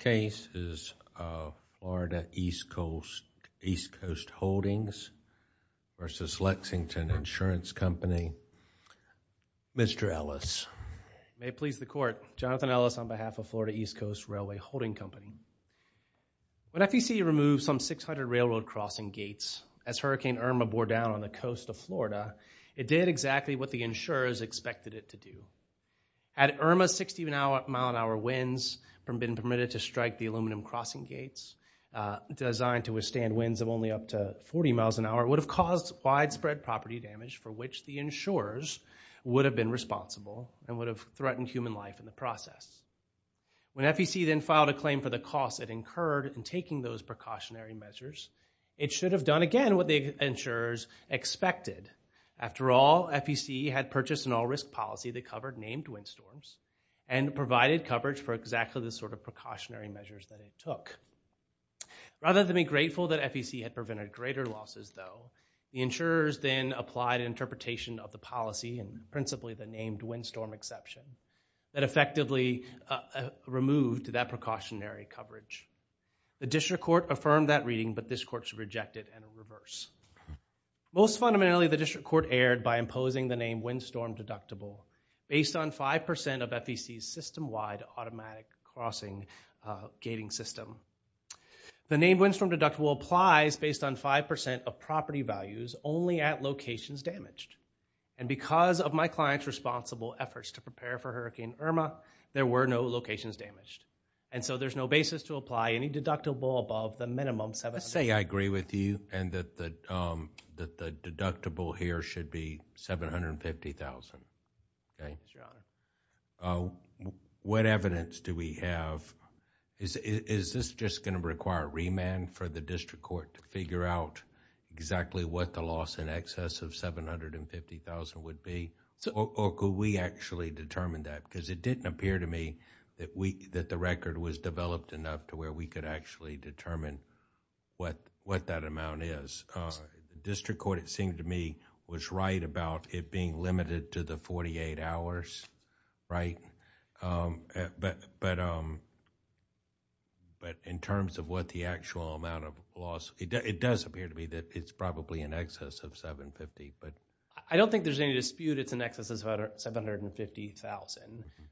case is Florida East Coast East Coast Holdings v. Lexington Insurance Company. Mr. Ellis. May it please the court. Jonathan Ellis on behalf of Florida East Coast Railway Holding Company. When FEC removed some 600 railroad crossing gates as Hurricane Irma bore down on the coast of Florida, it did exactly what the insurers expected it to do. Had Irma's 60-mile-an-hour winds been permitted to strike the aluminum crossing gates, designed to withstand winds of only up to 40 miles an hour, it would have caused widespread property damage for which the insurers would have been responsible and would have threatened human life in the process. When FEC then filed a claim for the costs it incurred in taking those precautionary measures, it should have done again what the insurers expected. After all, FEC had purchased an all-risk policy that covered named windstorms and provided coverage for exactly the sort of precautionary measures that it took. Rather than be grateful that FEC had prevented greater losses though, the insurers then applied an interpretation of the policy and principally the named windstorm exception that effectively removed that precautionary coverage. The district court affirmed that reading, but this court should reject it and reverse. Most fundamentally, the district court erred by imposing the named windstorm deductible based on 5% of FEC's system-wide automatic crossing gating system. The named windstorm deductible applies based on 5% of property values only at locations damaged. And because of my client's responsible efforts to prepare for Hurricane Irma, there were no locations damaged. And so there's no basis to apply any deductible above the minimum 700. I say I agree with you and that the deductible here should be $750,000. Thank you, Your Honor. What evidence do we have? Is this just going to require remand for the district court to figure out exactly what the loss in excess of $750,000 would be? Or could we actually determine that? Because it didn't appear to me that the record was developed enough to where we could actually determine what that amount is. The district court, it seemed to me, was right about it being limited to the 48 hours, right? But in terms of what the actual amount of loss, it does appear to me that it's probably in excess of $750,000. I don't think there's any dispute it's in excess of $750,000.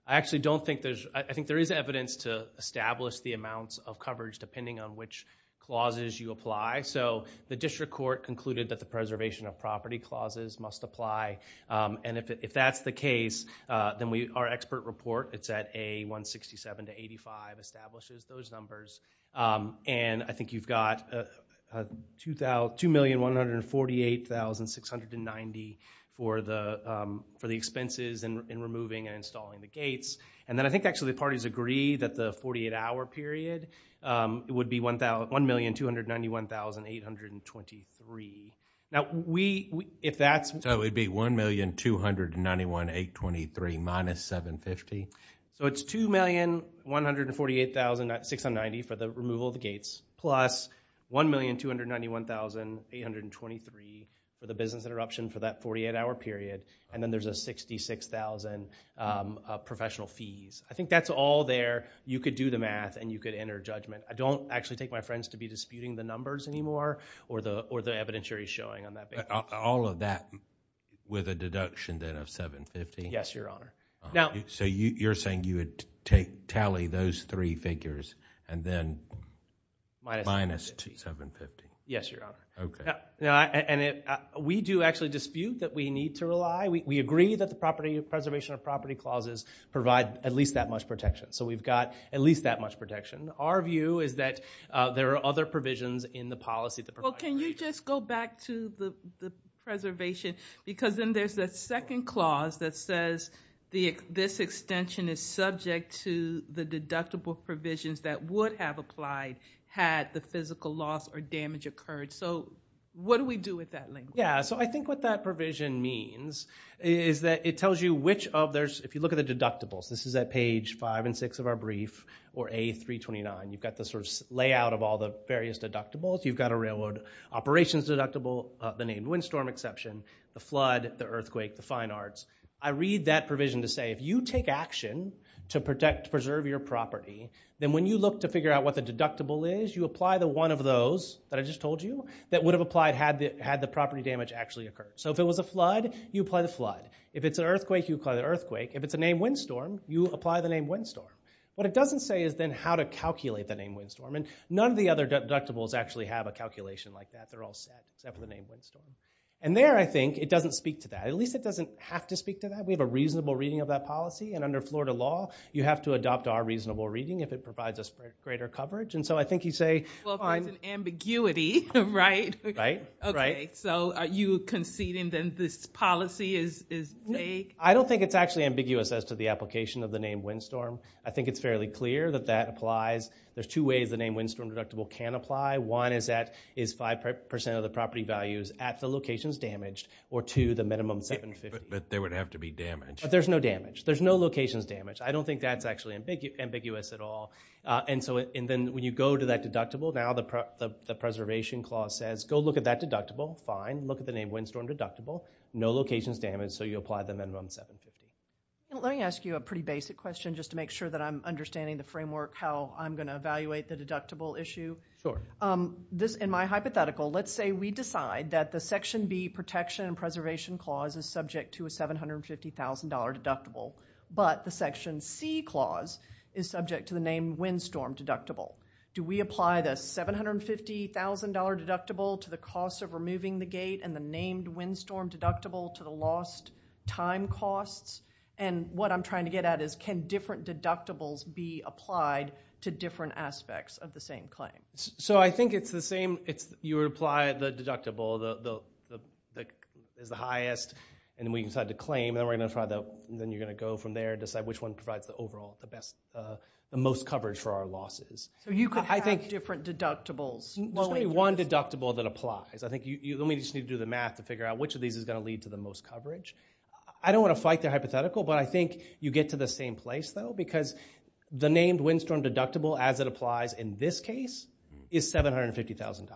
I actually don't think there's, I think there is evidence to establish the amounts of coverage depending on which clauses you apply. So the district court concluded that the preservation of property clauses must apply. And if that's the case, then our expert report, it's at A167-85, establishes those numbers. And I think you've got $2,148,690 for the expenses in removing and installing the gates. And then I think actually the parties agree that the 48-hour period, it would be $1,291,823. Now we, if that's... So it would be $1,291,823 minus $750? So it's $2,148,690 for the removal of the gates, plus $1,291,823 for the business interruption for that 48-hour period, and then there's a $66,000 professional fees. I think that's all there. You could do the math and you could enter judgment. I don't actually take my friends to be disputing the numbers anymore or the evidentiary showing on that basis. All of that with a deduction then of $750,000? Yes, Your Honor. So you're saying you would tally those three figures and then minus $750,000? Yes, Your Honor. And we do actually dispute that we need to rely. We agree that the preservation of property clauses provide at least that much protection. So we've got at least that much protection. Our view is that there are other provisions in the policy that provide Well, can you just go back to the preservation? Because then there's that second clause that says this extension is subject to the deductible provisions that would have applied had the physical loss or damage occurred. So what do we do with that language? Yeah, so I think what that provision means is that it tells you which of those, if you look at the deductibles, this is at page 5 and 6 of our brief, or A329. You've got the sort of layout of all the various deductibles. You've got a railroad operations deductible, the named windstorm exception, the flood, the earthquake, the fine arts. I read that provision to say if you take action to preserve your property, then when you look to figure out what the deductible is, you apply the one of those that I just told you that would have applied had the property damage actually occurred. So if it was a flood, you apply the flood. If it's an earthquake, you apply the earthquake. If it's a named windstorm, you apply the named windstorm. What it doesn't say is then how to calculate the named windstorm. And none of the other deductibles actually have a calculation like that. They're all set except for the named windstorm. And there, I think, it doesn't speak to that. At least it doesn't have to speak to that. We have a reasonable reading of that policy. And under Florida law, you have to adopt our reasonable reading if it provides us greater coverage. And so I think you say, well, there's an ambiguity, right? Right, right. So are you conceding then this policy is vague? I don't think it's actually ambiguous as to the application of the named windstorm. I think it's fairly clear that that applies. There's two ways the named windstorm deductible can apply. One is that is 5% of the property values at the locations damaged or to the minimum 750. But they would have to be damaged. But there's no damage. There's no locations damage. I don't think that's actually ambiguous at all. And so and then when you go to that deductible, now the preservation clause says, go look at that deductible. Fine. Look at the named windstorm deductible. No locations damaged. So you apply the minimum 750. Let me ask you a pretty basic question just to make sure that I'm understanding the framework, how I'm going to evaluate the deductible issue. Sure. In my hypothetical, let's say we decide that the Section B Protection and Preservation Clause is subject to a $750,000 deductible. But the Section C Clause is subject to the named windstorm deductible. Do we apply the $750,000 deductible to the cost of removing the gate and the named windstorm deductible to the lost time costs? And what I'm trying to get at is can different deductibles be applied to different aspects of the same claim? So I think it's the same. You would apply the deductible that is the highest. And then we decide the claim. Then you're going to go from there, decide which one provides the overall the best, the most coverage for our losses. So you could have different deductibles. Well, there's only one deductible that applies. I think you just need to do the math to figure out which of these is going to lead to the most coverage. I don't want to fight the hypothetical, but I think you get to the same place, though, because the named windstorm deductible as it applies in this case is $750,000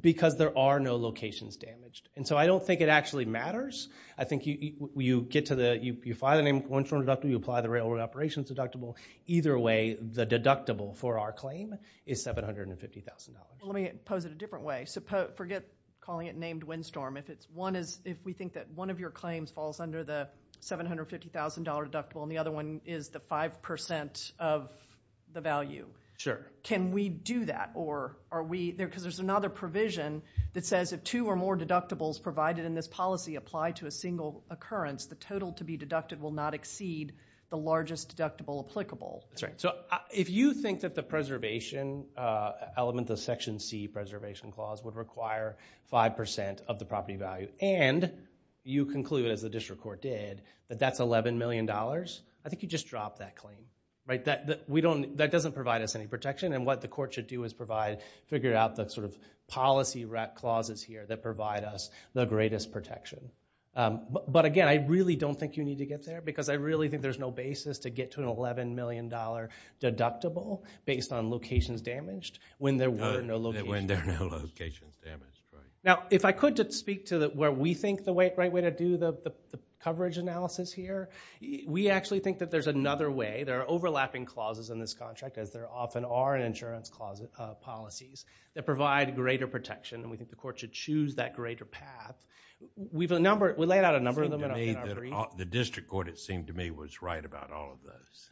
because there are no locations damaged. And so I don't think it actually matters. I think you get to the, you find the named windstorm deductible, you apply the railroad operations deductible. Either way, the deductible for our claim is $750,000. Well, let me pose it a different way. So forget calling it named windstorm. If it's one is, if we think that one of your claims falls under the $750,000 deductible and the other one is the 5% of the value, can we do that? Because there's another provision that says if two or more deductibles provided in this policy apply to a single occurrence, the total to be deducted will not exceed the largest deductible applicable. That's right. So if you think that the preservation element, the Section C preservation clause, would require 5% of the property value, and you conclude, as the district court did, that that's $11 million, I think you just drop that claim. That doesn't provide us any protection. And what the court should do is provide, figure out the sort of policy clauses here that provide us the greatest protection. But again, I really don't think you need to get there because I really think there's no basis to get to an $11 million deductible based on locations damaged when there were no locations damaged. Now, if I could just speak to where we think the right way to do the coverage analysis here, we actually think that there's another way. There are overlapping clauses in this contract, as there often are in insurance policies, that provide greater protection. And we think the court should choose that greater path. We've laid out a number of them. The district court, it seemed to me, was right about all of those.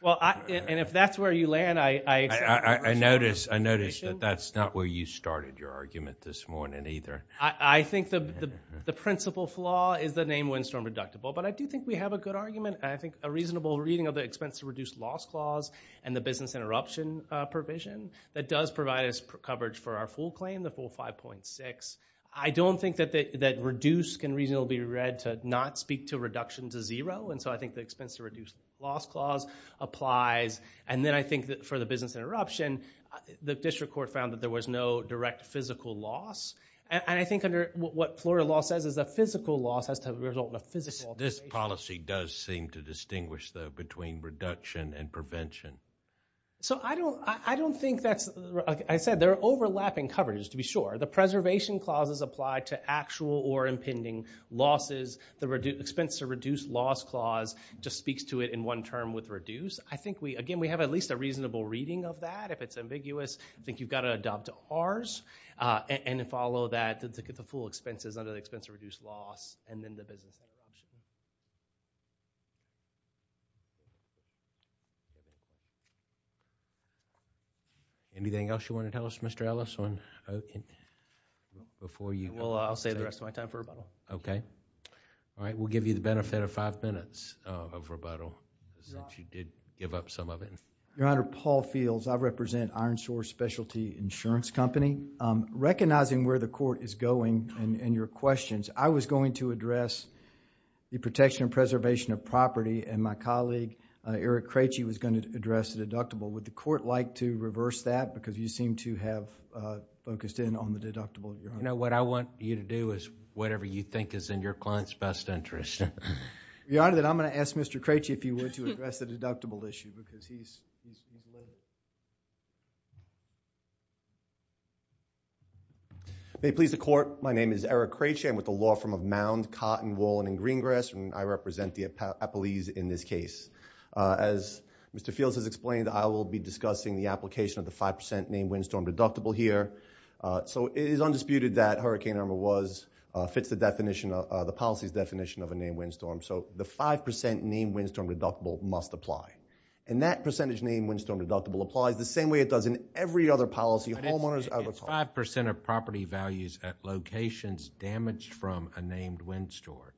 Well, and if that's where you land, I... I notice that that's not where you started your argument this morning either. I think the principal flaw is the name Windstorm Reductible. But I do think we have a good argument. I think a reasonable reading of the expense to reduce loss clause and the business interruption provision, that does provide us coverage for our full claim, the full 5.6. I don't think that reduce can reasonably be read to not speak to reduction to zero. And so I think the expense to reduce loss clause applies. And then I think that for the business interruption, the district court found that there was no direct physical loss. And I think under what Florida law says is that physical loss has to result in a physical alteration. This policy does seem to distinguish, though, between reduction and prevention. So I don't think that's... Like I said, there are overlapping coverages, to be sure. The preservation clauses apply to actual or impending losses. The expense to reduce loss clause just speaks to it in one term with reduce. I think we, again, we have at least a reasonable reading of that. If it's ambiguous, I think you've got to adopt ours and follow that to get the full expenses under the expense to reduce loss and then the business interruption. Anything else you want to tell us, Mr. Ellis, before you go off to bed? Well, I'll save the rest of my time for rebuttal. Okay. All right. We'll give you the benefit of five minutes of rebuttal since you did give up some of it. Your Honor, Paul Fields. I represent Ironshore Specialty Insurance Company. Recognizing where the court is going and your questions, I was going to address the protection and preservation of property and my colleague, Eric Craitchie, was going to address the deductible. Would the court like to reverse that because you seem to have focused in on the deductible, Your Honor? No. What I want you to do is whatever you think is in your client's best interest. Your Honor, then I'm going to ask Mr. Craitchie if you were to address the deductible issue because he's a little... May it please the court, my name is Eric Craitchie. I'm with the law firm of Mound, Cotton, Wallen, and Greengrass, and I represent the appellees in this case. As Mr. Fields has explained, I will be discussing the application of the 5% named windstorm deductible here. It is undisputed that Hurricane Irma fits the definition, the policy's definition of a named windstorm, so the 5% named windstorm deductible must apply. That percentage named windstorm deductible applies the same way it does in every other policy homeowners... It's 5% of property values at locations damaged from a named windstorm,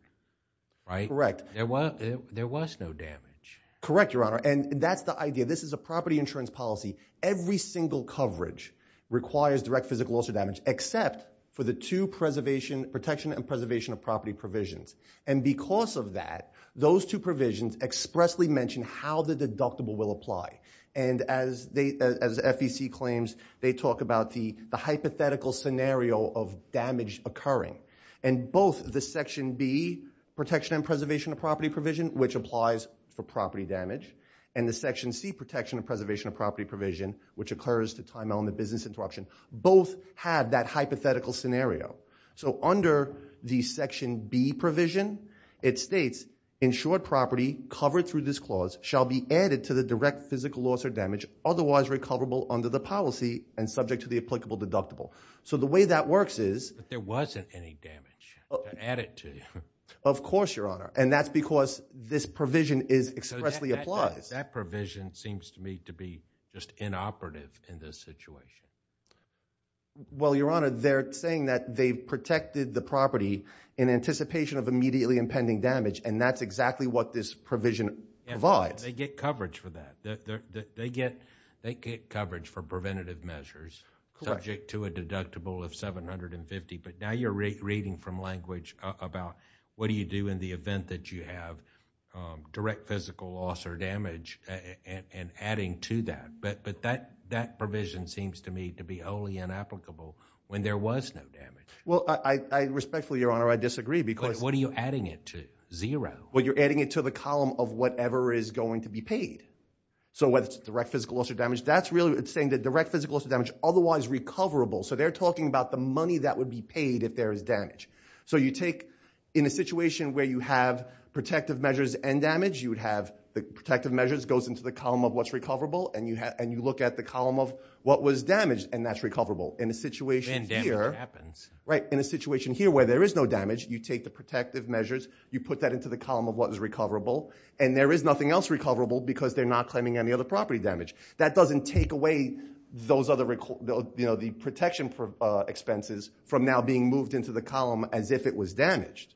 right? Correct. There was no damage. Correct, Your Honor, and that's the idea. This is a property insurance policy. Every single coverage requires direct physical loss or damage except for the two protection and preservation of property provisions, and because of that, those two provisions expressly mention how the deductible will apply, and as FEC claims, they talk about the hypothetical scenario of damage occurring, and both the Section B, protection and preservation of property provision, which applies for property damage, and the Section C, protection and preservation of property, which occurs to time out in the business interruption, both have that hypothetical scenario, so under the Section B provision, it states, insured property covered through this clause shall be added to the direct physical loss or damage otherwise recoverable under the policy and subject to the applicable deductible, so the way that works is... But there wasn't any damage added to it. Of course, Your Honor, and that's because this provision is expressly applied. That provision seems to me to be just inoperative in this situation. Well, Your Honor, they're saying that they've protected the property in anticipation of immediately impending damage, and that's exactly what this provision provides. They get coverage for that. They get coverage for preventative measures subject to a deductible of 750, but now you're reading from language about what do you do in the event that you have direct physical loss or damage and adding to that, but that provision seems to me to be wholly inapplicable when there was no damage. Well, respectfully, Your Honor, I disagree because... But what are you adding it to? Zero. Well, you're adding it to the column of whatever is going to be paid, so whether it's direct physical loss or damage, that's really... It's saying that direct physical loss or damage otherwise recoverable, so they're talking about the money that would be paid if there was damage, so you take... In a situation where you have protective measures and damage, you would have the protective measures goes into the column of what's recoverable, and you look at the column of what was damaged, and that's recoverable. In a situation here... Then damage happens. Right. In a situation here where there is no damage, you take the protective measures, you put that into the column of what is recoverable, and there is nothing else recoverable because they're not claiming any other property damage. That doesn't take away those other... The protection expenses from now being moved into the column as if it was damaged,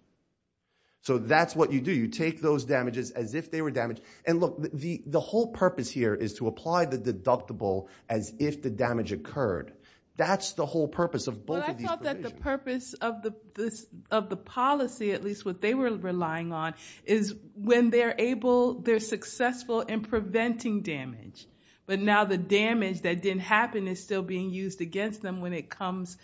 so that's what you do. You take those damages as if they were damaged, and look, the whole purpose here is to apply the deductible as if the damage occurred. That's the whole purpose of both of these provisions. Well, I thought that the purpose of the policy, at least what they were relying on, is when they're successful in preventing damage, but now the damage that didn't happen is still being used against them when it comes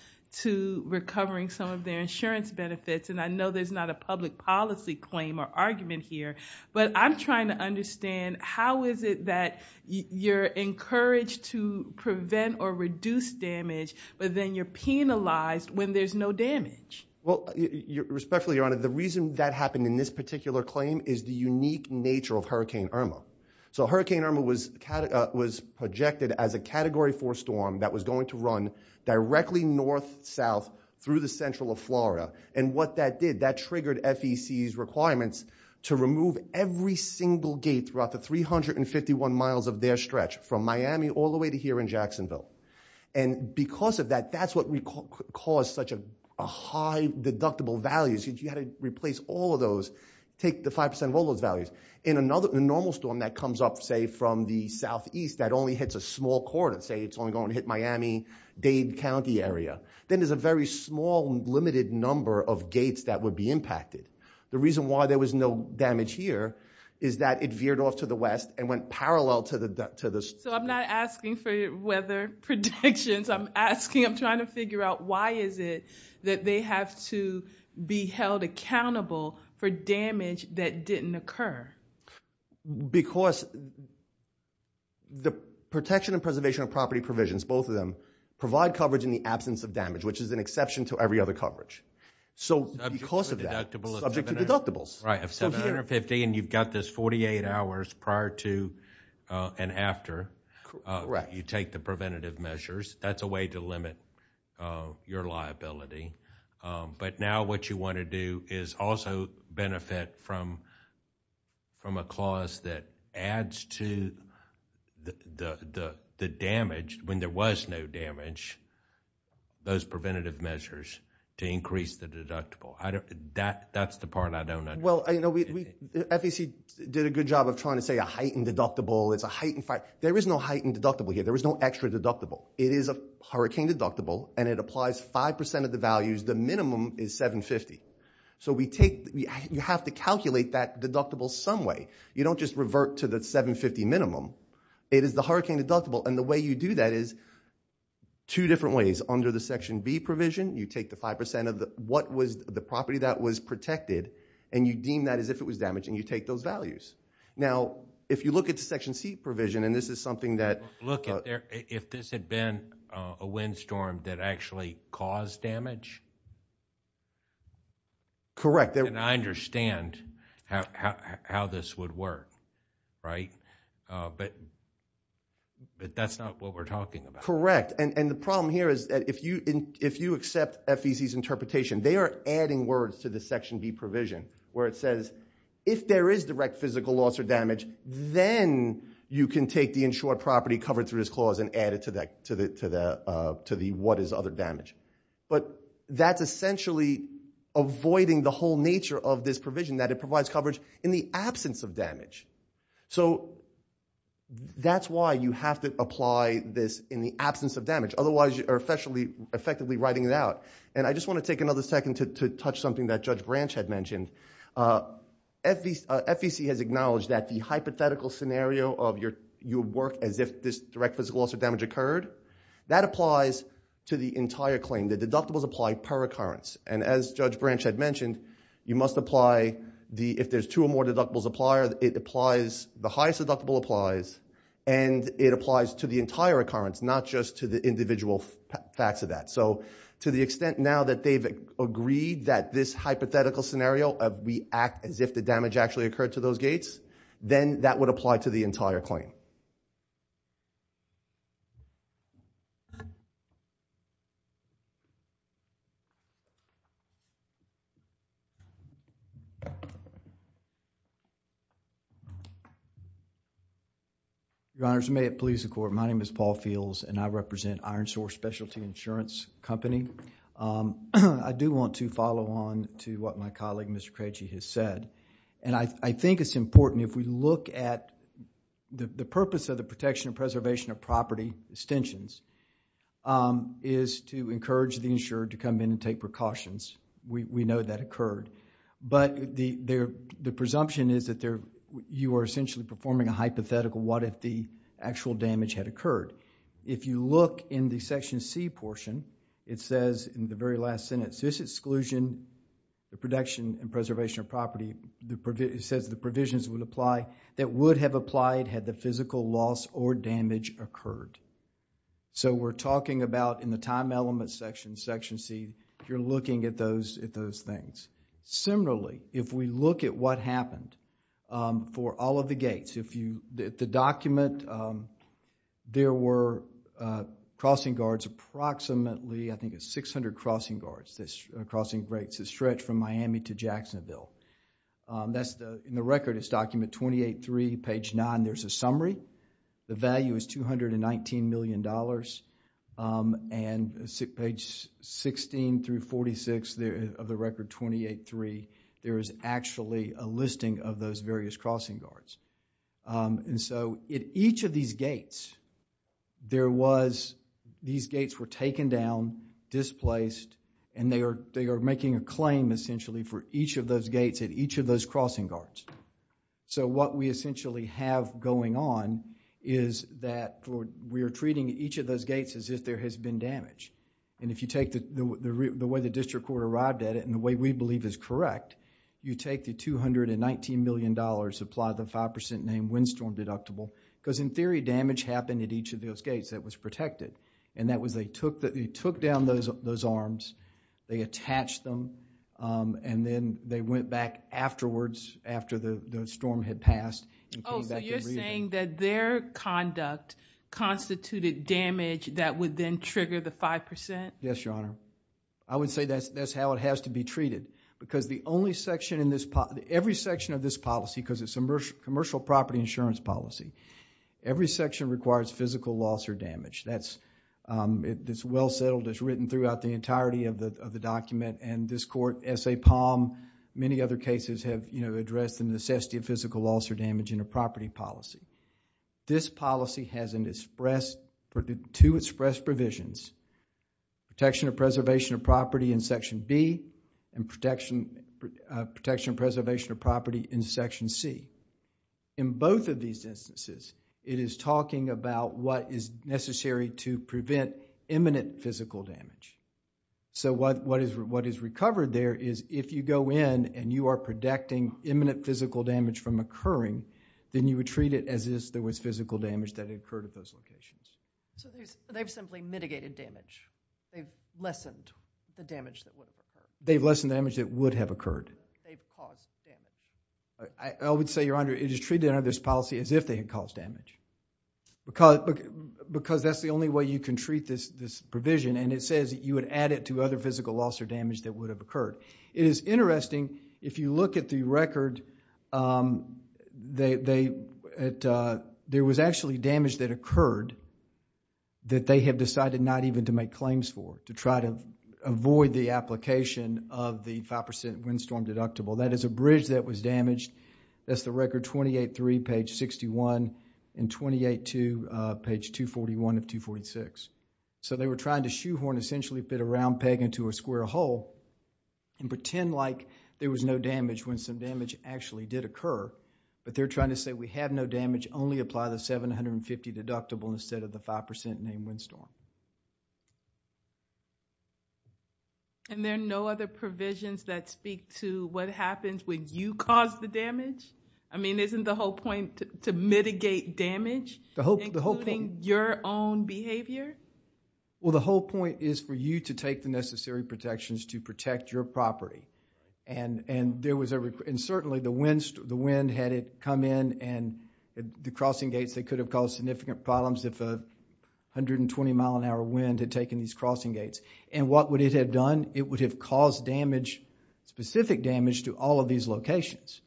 to recovering some of their insurance benefits. I know there's not a public policy claim or argument here, but I'm trying to understand how is it that you're encouraged to prevent or reduce damage, but then you're penalized when there's no damage? Respectfully, Your Honor, the reason that happened in this particular claim is the unique nature of Hurricane Irma. Hurricane Irma was projected as a Category 4 storm that was going to run directly north-south through the central of Florida, and what that did, that triggered FEC's requirements to remove every single gate throughout the 351 miles of their stretch from Miami all the way to here in Jacksonville. Because of that, that's what caused such a high deductible value. You had to replace all of those, take the 5% of all those values. In a normal storm that comes up, say, from the southeast that only hits a small corridor, say it's only going to hit Miami, Dade County area, then there's a very small, limited number of gates that would be impacted. The reason why there was no damage here is that it veered off to the west and went parallel to the... So I'm not asking for weather predictions. I'm asking, I'm trying to figure out, why is it that they have to be held accountable for damage that didn't occur? Because the protection and preservation of property provisions, both of them, provide coverage in the absence of damage, which is an exception to every other coverage. So because of that... Subject to deductibles. Right, of 750, and you've got this 48 hours prior to and after you take the preventative measures, that's a way to limit your liability. But now what you want to do is also benefit from a clause that adds to the damage, when there was no damage, those preventative measures, to increase the deductible. That's the part I don't understand. Well, FEC did a good job of trying to say a heightened deductible, it's a heightened... There is no heightened deductible here. There is no extra deductible. It is a hurricane deductible, and it applies 5% of the values. The minimum is 750. So we take... You have to calculate that deductible some way. You don't just revert to the 750 minimum. It is the hurricane deductible, and the way you do that is two different ways. Under the Section B provision, you take the 5% of what was the property that was protected, and you deem that as if it was damaged, and you take those values. Now, if you look at the Section C provision, and this is something that... Look, if this had been a windstorm that actually caused damage? Correct. And I understand how this would work, right? But that's not what we're talking about. Correct. And the problem here is that if you accept FEC's interpretation, they are adding words to the Section B provision, where it says, if there is direct physical loss or damage, then you can take the insured property covered through this clause and add it to the what is other damage. But that's essentially avoiding the whole nature of this provision that it provides coverage in the absence of damage. So that's why you have to apply this in the absence of damage. Otherwise, you are effectively writing it out. And I just want to take another second to touch something that Judge Branch had mentioned. FEC has acknowledged that the hypothetical scenario of your work as if this direct physical loss or damage occurred, that applies to the entire claim. The deductibles apply per occurrence. And as Judge Branch had mentioned, you must apply... If there's two or more deductibles apply, it applies... The highest deductible applies, and it applies to the entire occurrence, not just to the individual facts of that. So to the extent now that they've agreed that this hypothetical scenario, we act as if the damage actually occurred to those gates, then that would apply to the entire claim. Your Honor, may it please the Court, my name is Paul Fields, and I represent Ironsore Specialty Insurance Company. I do want to follow on to what my colleague, Mr. Creci, has said. And I think it's important if we look at the purpose of the protection and preservation of property extensions is to encourage the insured to come in and take precautions. We know that occurred. But the presumption is that you are essentially performing a hypothetical, what if the actual damage had occurred? If you look in the Section C portion, it says in the very last sentence, this exclusion, the protection and preservation of property, it says the provisions would apply, that would have applied had the physical loss or damage occurred. So we're talking about in the time element section, Section C, you're looking at those things. Similarly, if we look at what happened for all of the gates, the document, there were crossing guards, approximately, I think it's 600 crossing guards, crossing gates that stretch from Miami to Jacksonville. In the record, it's document 28-3, page 9, there's a summary. The value is $219 million. And page 16 through 46 of the record 28-3, there is actually a listing of those various crossing guards. And so at each of these gates, there was, these gates were taken down, displaced, and they are making a claim essentially for each of those gates at each of those crossing guards. So what we essentially have going on is that we are treating each of those gates as if there has been damage. And if you take the way the district court arrived at it and the way we believe is correct, you take the $219 million, apply the 5% named windstorm deductible, because in theory, damage happened at each of those gates that was protected. And that was they took down those arms, they attached them, and then they went back afterwards after the storm had passed. Oh, so you're saying that their conduct constituted damage that would then trigger the 5%? Yes, Your Honor. I would say that's how it has to be treated. Because the only section in this, every section of this policy, because it's a commercial property insurance policy, every section requires physical loss or damage. That's, it's well settled, it's written throughout the entirety of the document. And this court, S.A. Palm, many other cases have, you know, addressed the necessity of physical loss or damage in a property policy. This policy has an express, two express provisions. Protection of preservation of property in Section B and protection, protection of preservation of property in Section C. In both of these instances, it is talking about what is necessary to prevent imminent physical damage. So what, what is, what is recovered there is if you go in and you are protecting imminent physical damage from occurring, then you would treat it as if there was physical damage that had occurred at those locations. So they've simply mitigated damage. They've lessened the damage that would have occurred. They've lessened the damage that would have occurred. They've caused damage. I, I would say, it is treated under this policy as if they had caused damage. Because, because that's the only way you can treat this, this provision and it says you would add it to other physical loss or damage that would have occurred. It is interesting if you look at the record, um, they, it, uh, there was actually damage that occurred that they have decided not even to make claims for. To try to avoid the application of the 5% windstorm deductible. That is a bridge that was damaged. That's the record 28.3 page 61 and 28.2 uh, page 241 of 246. So they were trying to shoehorn essentially fit a round peg into a square hole and pretend like there was no damage when some damage actually did occur. But they're trying to say we have no damage only apply the 750 deductible instead of the 5% name windstorm. And there are no other provisions that speak to what happens when you cause the damage? I mean, isn't the whole point to mitigate damage? The whole, the whole point including your own behavior? Well, the whole point is for you to take the necessary protections to protect your property. And, and there was a, and certainly the wind, the wind had it come in and the crossing gates that could have caused significant problems if a 120 mile an hour wind had taken these crossing gates. And what would it have done? It would have caused damage, specific damage to all of these locations.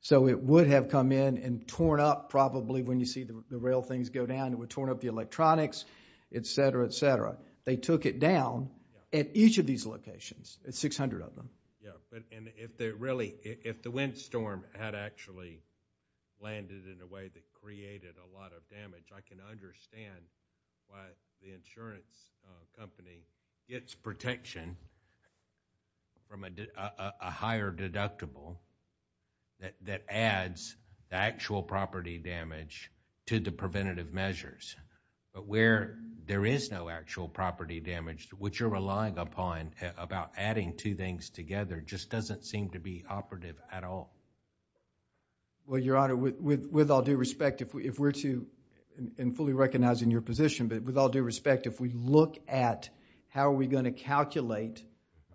So it would have come in and torn up probably when you see the rail things go down it would torn up the electronics, et cetera, et cetera. They took it down at each of these locations, at 600 of them. Yeah, and if they really, if the windstorm had actually landed in a way that created a lot of damage I can understand why the insurance company gets protection from a, a higher deductible that, that adds the actual property damage to the preventative measures. But where there is no actual property damage which you're relying upon about adding two things together just doesn't seem to be operative at all. Well, Your Honor, with all due respect if we're to and fully recognize in your position but with all due respect if we look at how are we going to calculate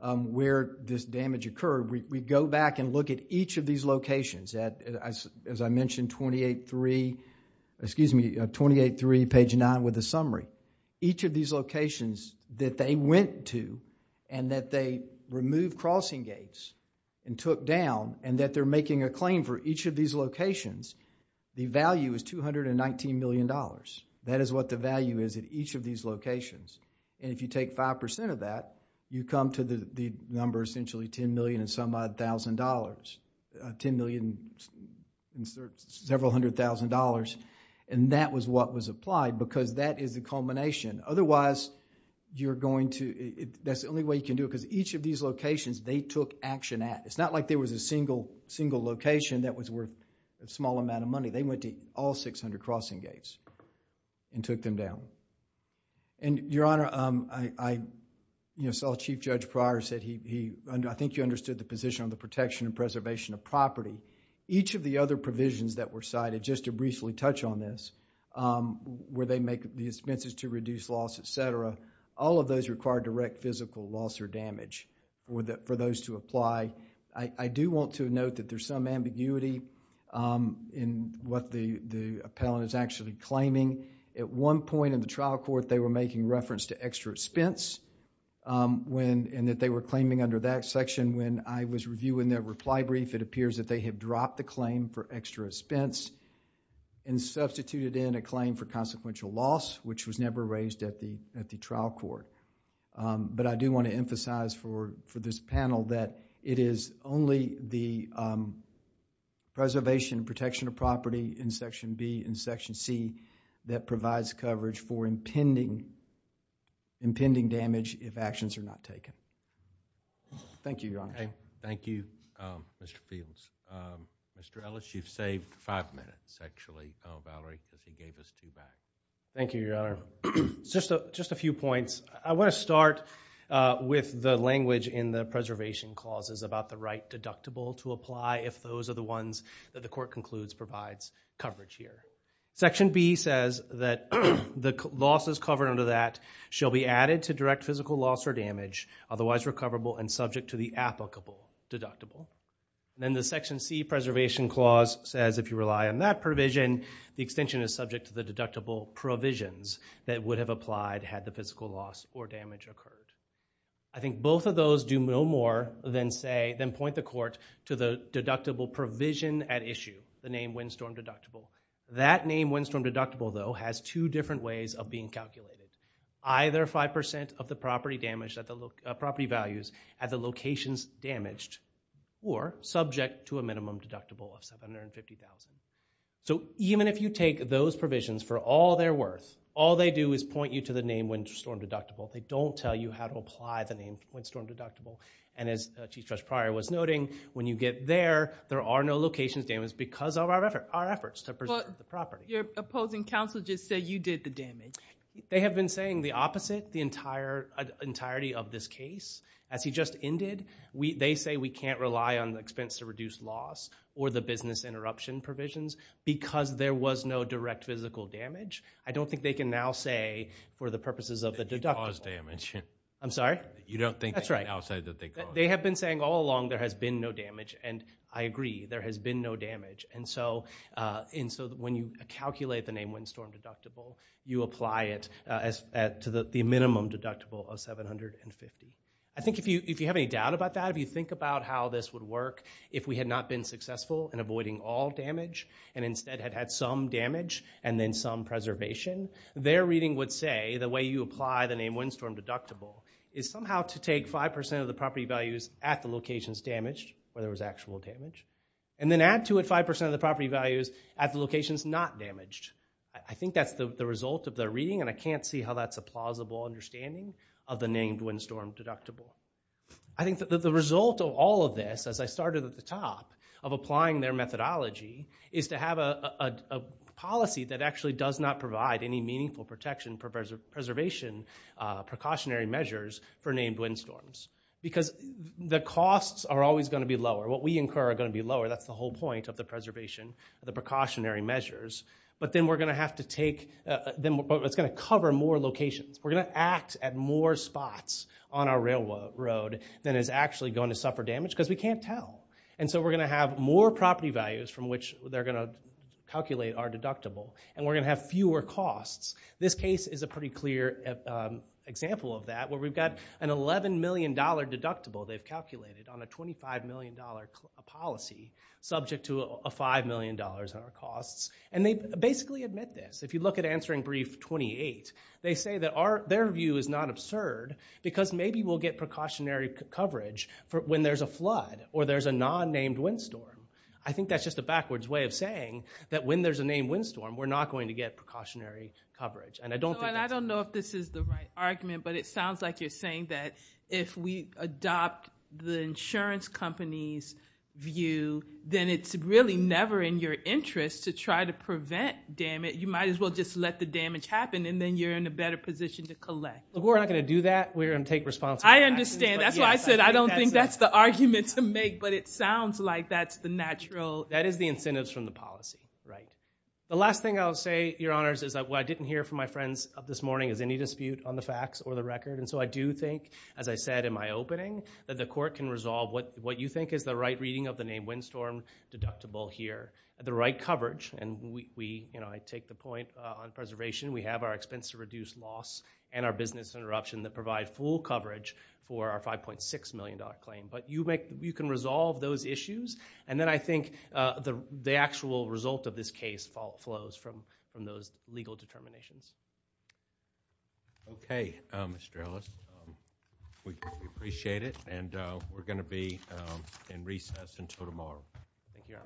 where this damage occurred we, we go back and look at each of these locations at, as I mentioned 28-3, excuse me, 28-3 page 9 with a summary. Each of these locations that they went to and that they removed crossing gates and took down and that they're making a claim for each of these locations the value is $219 million. That is what the value is at each of these locations. And if you take 5% of that you come to the number essentially $10 million and some odd thousand dollars. $10 million and several hundred thousand dollars. And that was what was applied because that is the culmination. you're going to that's the only way you can do it because each of these locations they took action at. It's not like there was a single single location that was worth a small amount of money. They went to all 600 crossing gates and took them down. And your honor I, you know saw Chief Judge Pryor said he I think you understood the position on the protection and preservation of property. Each of the other provisions that were cited just to briefly touch on this where they make the expenses to reduce loss et cetera all of those require direct physical loss or damage for those to apply. I do want to note that there's some ambiguity in what the the appellant is actually claiming. At one point in the trial court they were making reference to extra expense when and that they were claiming under that section when I was reviewing their reply brief it appears that they have dropped the claim for extra expense and substituted in a claim for compensation. But I do want to emphasize for this panel that it is only the preservation and protection of property in Section B and Section C that provides coverage for impending impending damage if actions are not taken. Thank you, Thank you Mr. Peebles. Mr. Ellis, you've saved five minutes actually Valerie because he gave us two minutes. Thank you, Thank you, Just a few points. I want to start with the language in the preservation clauses about the right deductible to apply if those are the ones that the court concludes provides coverage here. Section B says that the losses covered under that shall be added to direct physical loss or damage otherwise recoverable and subject to the applicable deductible. Then the Section C preservation clause says if you rely on that provision the extension is subject to the deductible provisions that would have applied had the physical loss or damage occurred. I think both of those do no more than say than point the court to the deductible provision at issue the name windstorm deductible. That name windstorm deductible though has two different ways of being calculated. Either 5% of the property damage at the property values at the locations damaged or subject to a minimum deductible of $750,000. So even if you take those provisions for all they're worth all they do is point you to the name windstorm deductible. They don't tell you how to apply the name windstorm deductible and as Chief Judge Pryor was noting when you get there there are no locations damaged because of our efforts to preserve the property. Your opposing counsel just said you did the damage. They have been saying the opposite the entirety of this case. As he just ended they say we can't rely on the expense to reduce loss or the business interruption provisions because there was no direct physical damage. I don't think they can now say for the purposes of the deductible I'm sorry? You don't think that's right. They have been saying all along there has been no damage and I agree there has been no damage and so when you calculate the name windstorm deductible you apply it to the minimum deductible of 750. I think if you have any doubt about that if you think about how this would work if we had not been successful in avoiding all damage and instead had some damage and then some preservation their reading would say the way you apply the name windstorm deductible is somehow to take 5% of the property values at the locations damaged where there was actual damage and then add to it 5% of the property values at the locations not damaged. I think that's the result of their reading and I can't see how that's a plausible understanding of the name windstorm deductible. I think the result of all of this as I started at the top of applying their methodology is to have a policy that actually does not provide any meaningful protection preservation precautionary measures for named windstorms because the costs are always going to be lower what we incur are going to be lower that's the whole point of the preservation the precautionary measures but then we're going to have to take it's going to cover more locations we're going to act at more spots on our railroad than is actually going to suffer damage because we can't tell and so we're going to have more property values from which they're going to calculate our deductible and we're going to have fewer costs this case is a pretty clear example of that where we've got an $11 million deductible they've calculated on a $25 million policy subject to a $5 million in our costs and they basically admit this if you look at answering brief 28 they say that their view is not absurd because maybe we'll get precautionary coverage when there's a flood or there's a non-named windstorm I think that's just a backwards way of saying that when there's a named windstorm we're not going to get precautionary coverage and I don't think I don't know if this is the right argument but it sounds like you're saying that if we adopt the insurance companies view then it's really never in your interest to try to prevent damage you might as well just let the damage happen and then you're in a better position to collect we're not going to do that we're going to take responsibility I understand that's why I said I don't think that's the argument to make but it sounds like that's the natural that is the incentives from the policy right the last thing I'll say your honors is that what I didn't hear from my friends this morning is any dispute on the facts or the record and so I do think as I said in my opening that the court can resolve what you think is the right reading of the named windstorm deductible here the right coverage and we I take the point on preservation we have our expense to reduce loss and our business interruption that provide full coverage for our $5.6 million claim but you can resolve those issues and then I think the actual result of this case flows from those legal determinations okay Mr. Ellis we appreciate it and we're going to be in recess until tomorrow thank you all